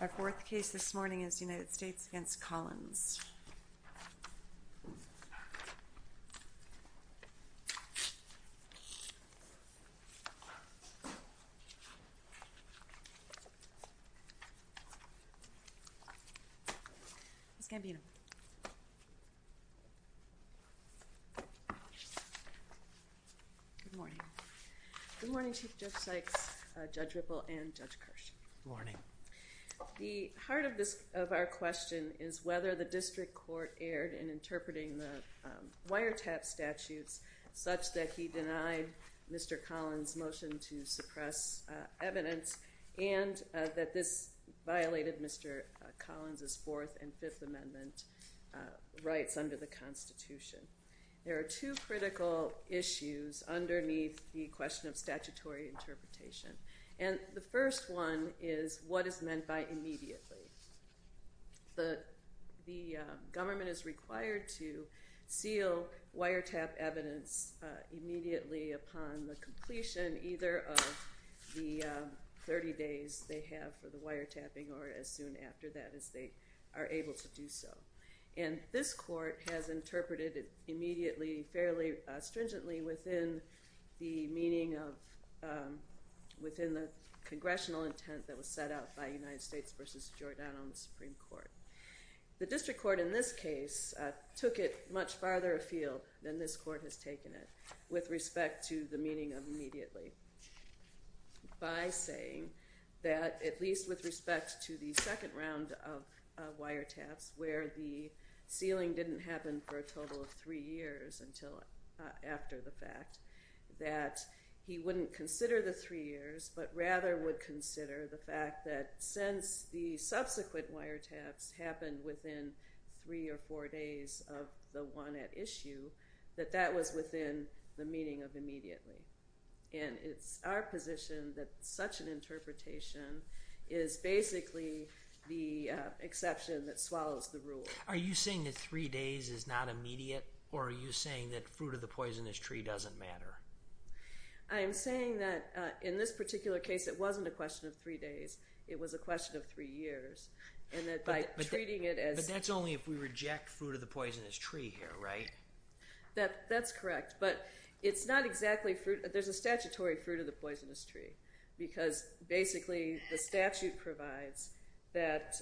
Our fourth case this morning is United States v. Collins. Ms. Gambino. Good morning. Good morning, Chief Judge Sykes, Judge Ripple, and Judge Kirsch. Good morning. The heart of our question is whether the district court erred in interpreting the wiretap statutes such that he denied Mr. Collins' motion to suppress evidence and that this violated Mr. Collins' Fourth and Fifth Amendment rights under the Constitution. There are two critical issues underneath the question of statutory interpretation. And the first one is what is meant by immediately. The government is required to seal wiretap evidence immediately upon the completion either of the 30 days they have for the wiretapping or as soon after that as they are able to do so. And this court has interpreted it immediately fairly stringently within the meaning of, within the congressional intent that was set out by United States v. Giordano in the Supreme Court. The district court in this case took it much farther afield than this court has taken it with respect to the meaning of immediately by saying that at least with respect to the second round of wiretaps where the sealing didn't happen for a total of three years until after the fact, that he wouldn't consider the three years but rather would consider the fact that since the subsequent wiretaps happened within three or four days of the one at issue, that that was within the meaning of immediately. And it's our position that such an interpretation is basically the exception that swallows the rule. Are you saying that three days is not immediate or are you saying that fruit of the poisonous tree doesn't matter? I'm saying that in this particular case it wasn't a question of three days, it was a question of three years. But that's only if we reject fruit of the poisonous tree here, right? That's correct, but it's not exactly fruit. There's a statutory fruit of the poisonous tree because basically the statute provides that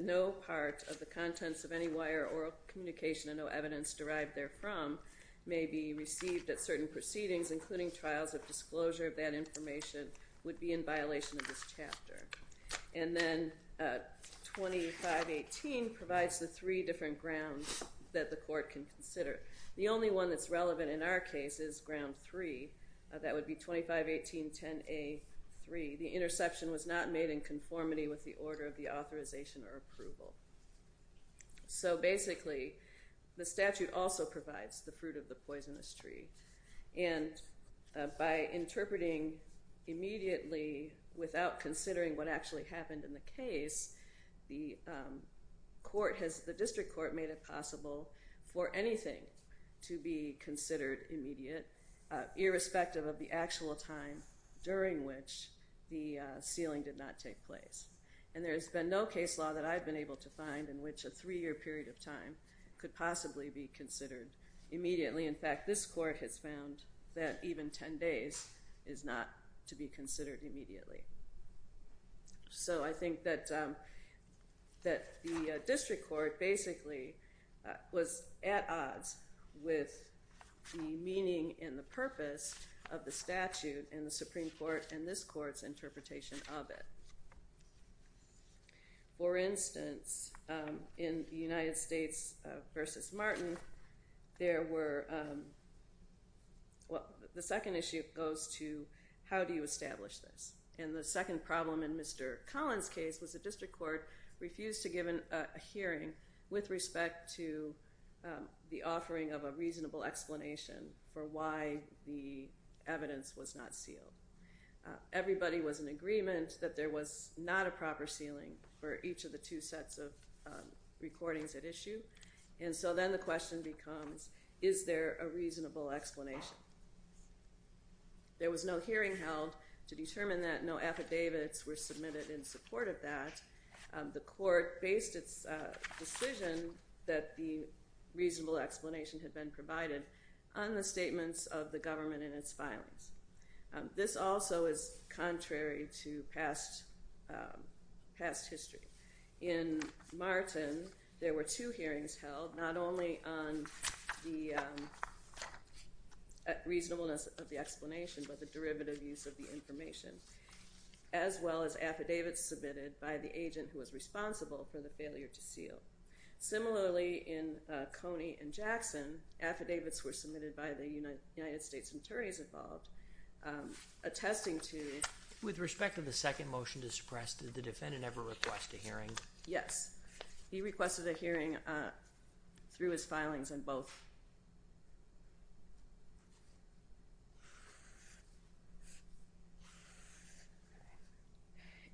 no part of the contents of any wire or communication and no evidence derived therefrom may be received at certain proceedings including trials of disclosure of that information would be in violation of this chapter. And then 2518 provides the three different grounds that the court can consider. The only one that's relevant in our case is ground three. That would be 2518.10a.3. The interception was not made in conformity with the order of the authorization or approval. So basically the statute also provides the fruit of the poisonous tree. And by interpreting immediately without considering what actually happened in the case, the district court made it possible for anything to be considered immediate, irrespective of the actual time during which the sealing did not take place. And there's been no case law that I've been able to find in which a three-year period of time could possibly be considered immediately. In fact, this court has found that even 10 days is not to be considered immediately. So I think that the district court basically was at odds with the meaning and the purpose of the statute and the Supreme Court and this court's interpretation of it. For instance, in the United States v. Martin, there were the second issue goes to how do you establish this? And the second problem in Mr. Collins' case was the district court refused to give a hearing with respect to the offering of a reasonable explanation for why the evidence was not sealed. Everybody was in agreement that there was not a proper sealing for each of the two sets of recordings at issue. And so then the question becomes, is there a reasonable explanation? There was no hearing held to determine that. No affidavits were submitted in support of that. The court based its decision that the reasonable explanation had been provided on the statements of the government and its filings. This also is contrary to past history. In Martin, there were two hearings held, not only on the reasonableness of the explanation, but the derivative use of the information, as well as affidavits submitted by the agent who was responsible for the failure to seal. Similarly, in Coney v. Jackson, affidavits were submitted by the United States attorneys involved, attesting to With respect to the second motion to suppress, did the defendant ever request a hearing? Yes. He requested a hearing through his filings on both.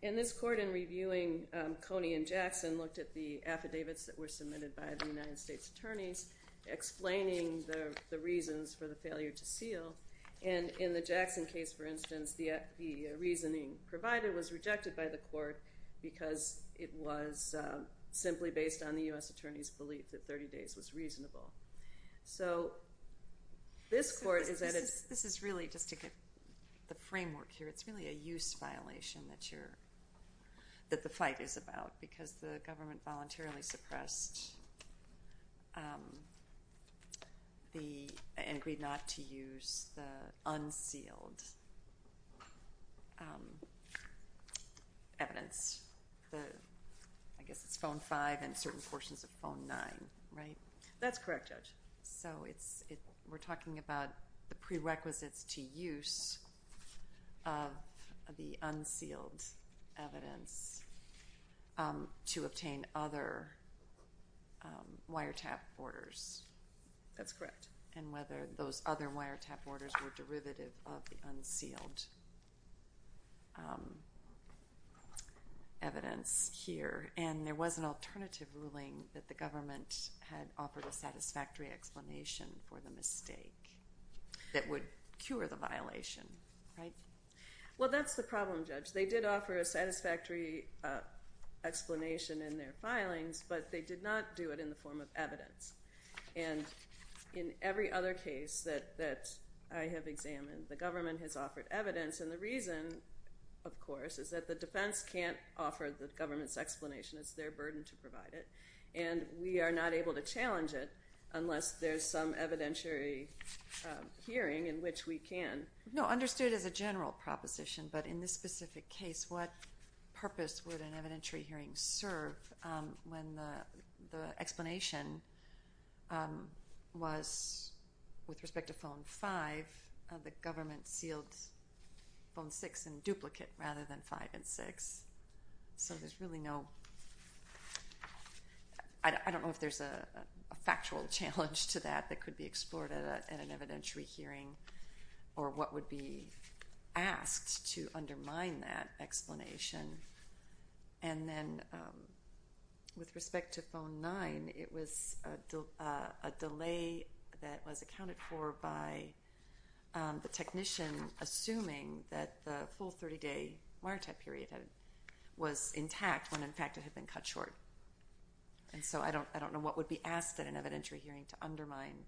In this court, in reviewing Coney v. Jackson, looked at the affidavits that were submitted by the United States attorneys, explaining the reasons for the failure to seal. In the Jackson case, for instance, the reasoning provided was rejected by the court because it was simply based on the U.S. attorney's belief that 30 days was reasonable. This is really, just to get the framework here, it's really a use violation that the fight is about because the government voluntarily suppressed and agreed not to use the unsealed evidence. I guess it's phone 5 and certain portions of phone 9, right? We're talking about the prerequisites to use of the unsealed evidence to obtain other wiretap orders. That's correct. And whether those other wiretap orders were derivative of the unsealed evidence here. And there was an alternative ruling that the government had offered a satisfactory explanation for the mistake that would cure the violation, right? Well, that's the problem, Judge. They did offer a satisfactory explanation in their filings, but they did not do it in the form of evidence. And in every other case that I have examined, the government has offered evidence. And the reason, of course, is that the defense can't offer the government's explanation. It's their burden to provide it. And we are not able to challenge it unless there's some evidentiary hearing in which we can. No, understood as a general proposition, but in this specific case, what purpose would an evidentiary hearing serve when the explanation was, with respect to phone 5, the government sealed phone 6 in duplicate rather than 5 and 6? So there's really no – I don't know if there's a factual challenge to that that could be explored in an evidentiary hearing or what would be asked to undermine that explanation. And then with respect to phone 9, it was a delay that was accounted for by the technician, assuming that the full 30-day wiretap period was intact when, in fact, it had been cut short. And so I don't know what would be asked at an evidentiary hearing to undermine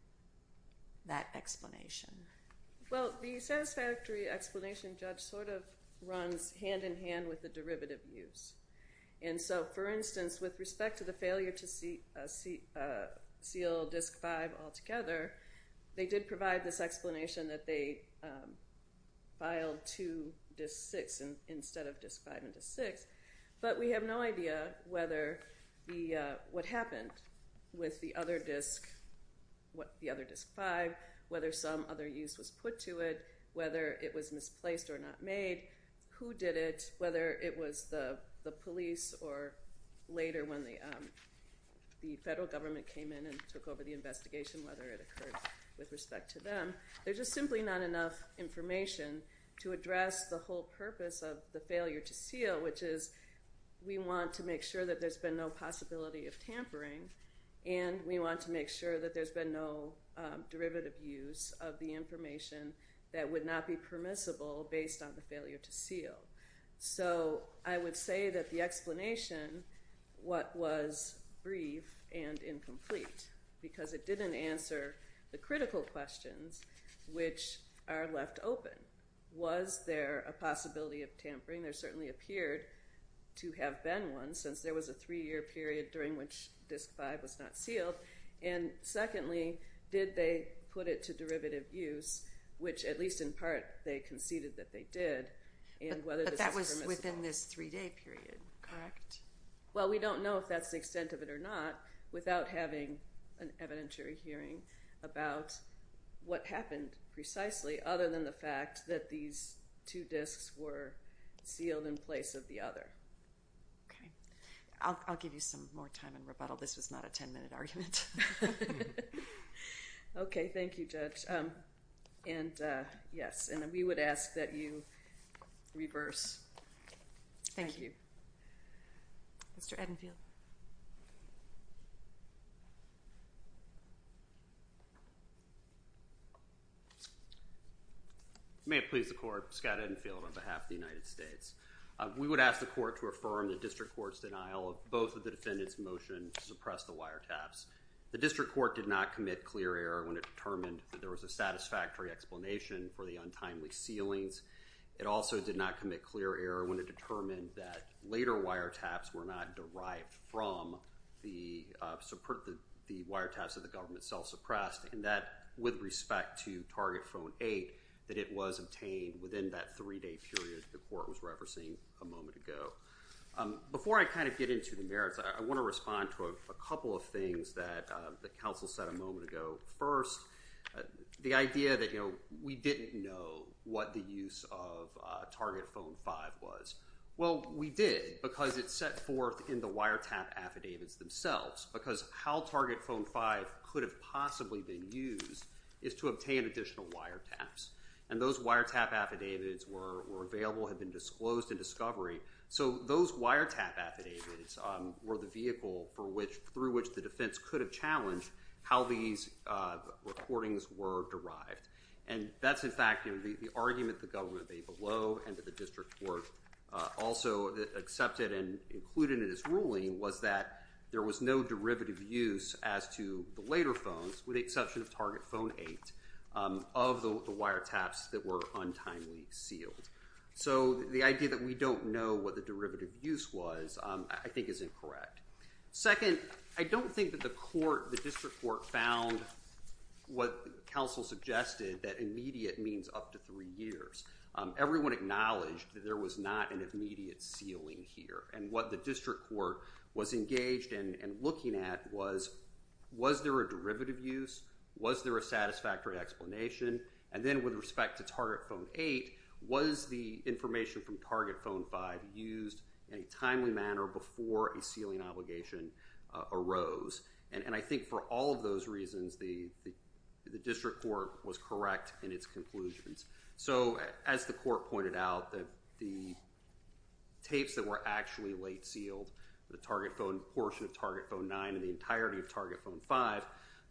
that explanation. Well, the satisfactory explanation, Judge, sort of runs hand-in-hand with the derivative use. And so, for instance, with respect to the failure to seal disk 5 altogether, they did provide this explanation that they filed to disk 6 instead of disk 5 and disk 6, but we have no idea what happened with the other disk 5, whether some other use was put to it, whether it was misplaced or not made, who did it, whether it was the police or later when the federal government came in and took over the investigation, whether it occurred with respect to them. There's just simply not enough information to address the whole purpose of the failure to seal, which is we want to make sure that there's been no possibility of tampering, and we want to make sure that there's been no derivative use of the information that would not be permissible based on the failure to seal. So I would say that the explanation was brief and incomplete because it didn't answer the critical questions which are left open. Was there a possibility of tampering? There certainly appeared to have been one since there was a three-year period during which disk 5 was not sealed. And secondly, did they put it to derivative use, which at least in part they conceded that they did, and whether this was permissible. But that was within this three-day period, correct? Well, we don't know if that's the extent of it or not without having an evidentiary hearing about what happened precisely other than the fact that these two disks were sealed in place of the other. Okay. I'll give you some more time and rebuttal. This was not a 10-minute argument. Okay. Thank you, Judge. And, yes, and we would ask that you reverse. Thank you. Mr. Edenfield. May it please the Court. Scott Edenfield on behalf of the United States. We would ask the Court to affirm the district court's denial of both of the defendant's motion to suppress the wiretaps. The district court did not commit clear error when it determined that there was a satisfactory explanation for the untimely sealings. It also did not commit clear error when it determined that later wiretaps were not derived from the wiretaps that the government self-suppressed, and that with respect to Target Phone 8, that it was obtained within that three-day period the Court was referencing a moment ago. Before I kind of get into the merits, I want to respond to a couple of things that the counsel said a moment ago. First, the idea that, you know, we didn't know what the use of Target Phone 5 was. Well, we did because it's set forth in the wiretap affidavits themselves, because how Target Phone 5 could have possibly been used is to obtain additional wiretaps, and those wiretap affidavits were available, had been disclosed in discovery. So those wiretap affidavits were the vehicle through which the defense could have challenged how these recordings were derived. And that's, in fact, the argument the government made below and that the district court also accepted and included in its ruling was that there was no derivative use as to the later phones with the exception of Target Phone 8 of the wiretaps that were untimely sealed. So the idea that we don't know what the derivative use was, I think, is incorrect. Second, I don't think that the court, the district court, found what counsel suggested, that immediate means up to three years. Everyone acknowledged that there was not an immediate sealing here, and what the district court was engaged in and looking at was, was there a derivative use? Was there a satisfactory explanation? And then with respect to Target Phone 8, was the information from Target Phone 5 used in a timely manner before a sealing obligation arose? And I think for all of those reasons, the district court was correct in its conclusions. So as the court pointed out, that the tapes that were actually late sealed, the Target Phone portion of Target Phone 9 and the entirety of Target Phone 5,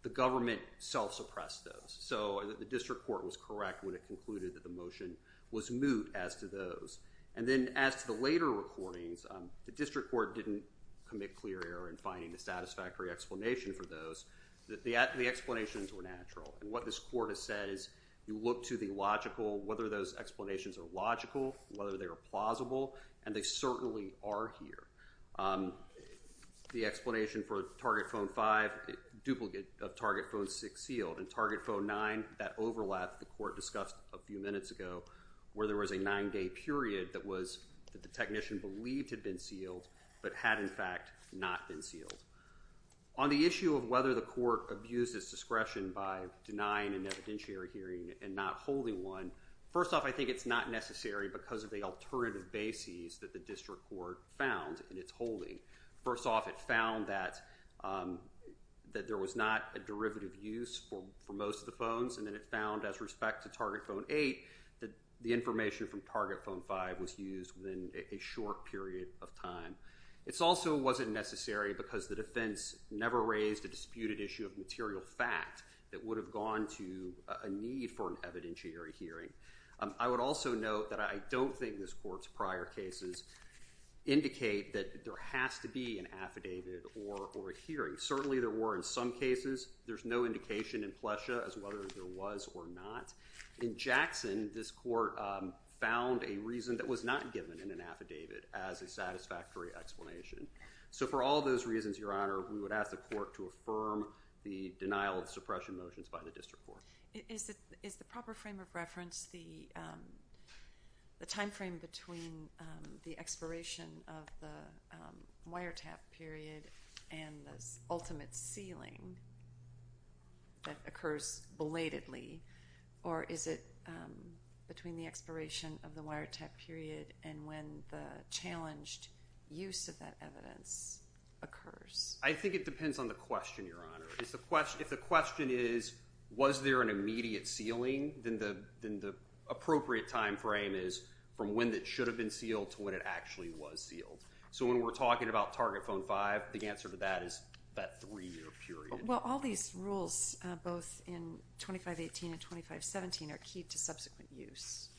the government self-suppressed those. So the district court was correct when it concluded that the motion was moot as to those. And then as to the later recordings, the district court didn't commit clear error in finding a satisfactory explanation for those. The explanations were natural, and what this court has said is you look to the logical, whether those explanations are logical, whether they are plausible, and they certainly are here. The explanation for Target Phone 5, duplicate of Target Phone 6 sealed, and Target Phone 9, that overlap the court discussed a few minutes ago where there was a nine-day period that was, that the technician believed had been sealed but had in fact not been sealed. On the issue of whether the court abused its discretion by denying an evidentiary hearing and not holding one, first off, I think it's not necessary because of the alternative bases that the district court found in its holding. First off, it found that there was not a derivative use for most of the phones, and then it found as respect to Target Phone 8 that the information from Target Phone 5 was used within a short period of time. It also wasn't necessary because the defense never raised a disputed issue of material fact that would have gone to a need for an evidentiary hearing. I would also note that I don't think this court's prior cases indicate that there has to be an affidavit or a hearing. Certainly there were in some cases. There's no indication in Plesha as whether there was or not. In Jackson, this court found a reason that was not given in an affidavit as a satisfactory explanation. So for all those reasons, Your Honor, we would ask the court to affirm the denial of suppression motions by the district court. Is the proper frame of reference the time frame between the expiration of the wiretap period and the ultimate sealing that occurs belatedly, or is it between the expiration of the wiretap period and when the challenged use of that evidence occurs? I think it depends on the question, Your Honor. If the question is, was there an immediate sealing, then the appropriate time frame is from when it should have been sealed to when it actually was sealed. So when we're talking about Target Phone 5, the answer to that is that three-year period. Well, all these rules, both in 2518 and 2517, are key to subsequent use,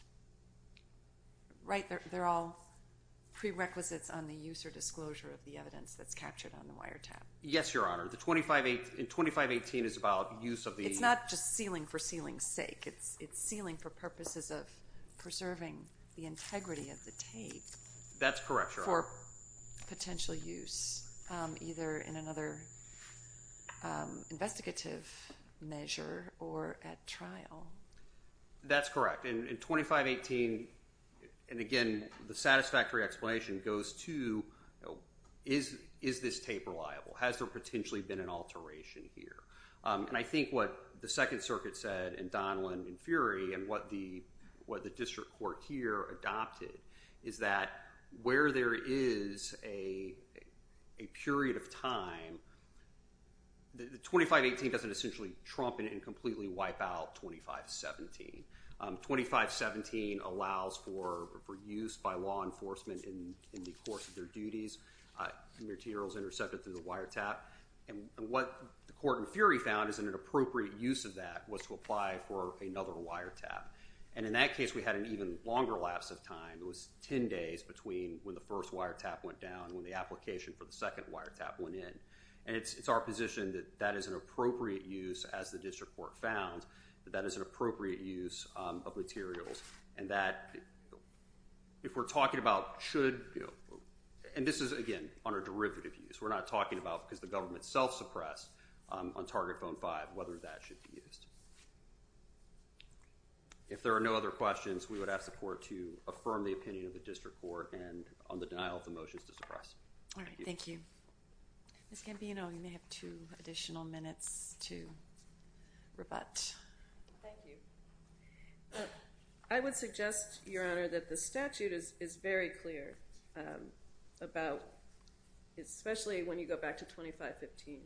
right? They're all prerequisites on the use or disclosure of the evidence that's captured on the wiretap. Yes, Your Honor. The 2518 is about use of the— It's not just sealing for sealing's sake. It's sealing for purposes of preserving the integrity of the tape— That's correct, Your Honor. —for potential use, either in another investigative measure or at trial. That's correct. In 2518, and again, the satisfactory explanation goes to, is this tape reliable? Has there potentially been an alteration here? And I think what the Second Circuit said and Donlan and Fury and what the district court here adopted is that where there is a period of time, the 2518 doesn't essentially trump and completely wipe out 2517. 2517 allows for use by law enforcement in the course of their duties. Materials intercepted through the wiretap. And what the court and Fury found is that an appropriate use of that was to apply for another wiretap. And in that case, we had an even longer lapse of time. It was 10 days between when the first wiretap went down and when the application for the second wiretap went in. And it's our position that that is an appropriate use, as the district court found, that that is an appropriate use of materials. And that, if we're talking about should— And this is, again, on a derivative use. We're not talking about, because the government self-suppressed on Target Phone 5, whether that should be used. If there are no other questions, we would ask the court to affirm the opinion of the district court on the denial of the motions to suppress. All right. Thank you. Ms. Gambino, you may have two additional minutes to rebut. Thank you. I would suggest, Your Honor, that the statute is very clear about, especially when you go back to 2515,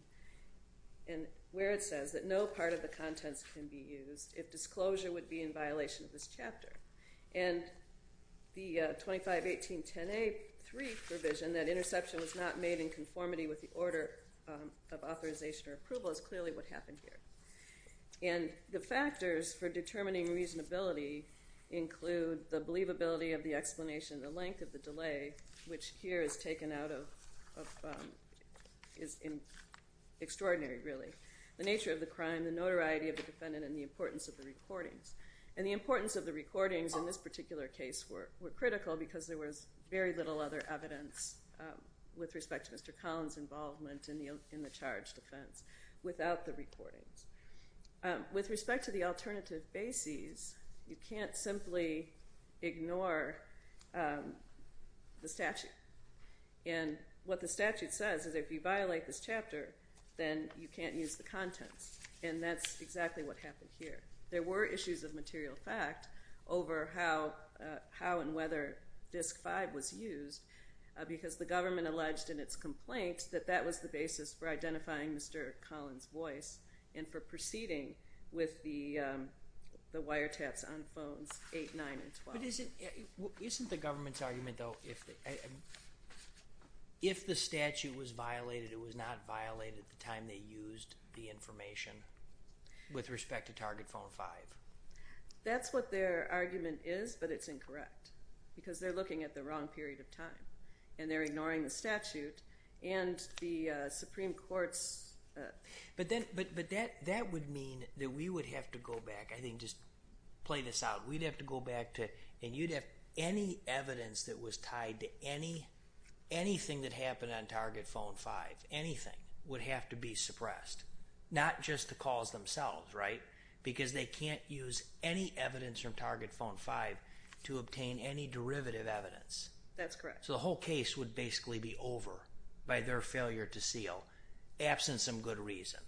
where it says that no part of the contents can be used if disclosure would be in violation of this chapter. And the 251810A3 provision, that interception was not made in conformity with the order of authorization or approval, is clearly what happened here. And the factors for determining reasonability include the believability of the explanation, the length of the delay, which here is taken out of—is extraordinary, really, the nature of the crime, the notoriety of the defendant, and the importance of the recordings. And the importance of the recordings in this particular case were critical, because there was very little other evidence with respect to Mr. Collins' involvement in the charged offense without the recordings. With respect to the alternative bases, you can't simply ignore the statute. And what the statute says is if you violate this chapter, then you can't use the contents. And that's exactly what happened here. There were issues of material fact over how and whether DISC-5 was used, because the government alleged in its complaint that that was the basis for identifying Mr. Collins' voice and for proceeding with the wiretaps on phones 8, 9, and 12. Isn't the government's argument, though, if the statute was violated, that it was not violated at the time they used the information with respect to Target Phone 5? That's what their argument is, but it's incorrect, because they're looking at the wrong period of time, and they're ignoring the statute and the Supreme Court's— But that would mean that we would have to go back, I think, just play this out. And you'd have any evidence that was tied to anything that happened on Target Phone 5, anything, would have to be suppressed, not just the calls themselves, right? Because they can't use any evidence from Target Phone 5 to obtain any derivative evidence. That's correct. So the whole case would basically be over by their failure to seal, absent some good reason.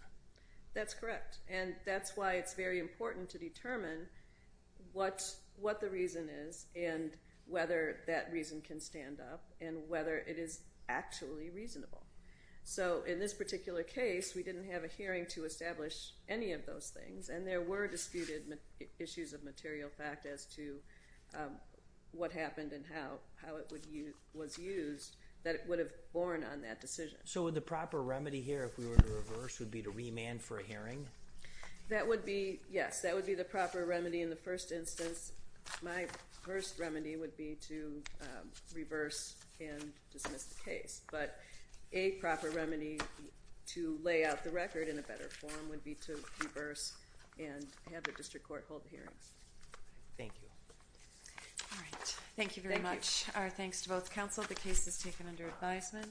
That's correct. And that's why it's very important to determine what the reason is and whether that reason can stand up and whether it is actually reasonable. So in this particular case, we didn't have a hearing to establish any of those things, and there were disputed issues of material fact as to what happened and how it was used that would have borne on that decision. So would the proper remedy here, if we were to reverse, would be to remand for a hearing? That would be—yes, that would be the proper remedy in the first instance. My first remedy would be to reverse and dismiss the case. But a proper remedy to lay out the record in a better form would be to reverse and have the district court hold the hearings. Thank you. All right. Thank you very much. Our thanks to both counsel. The case is taken under advisement.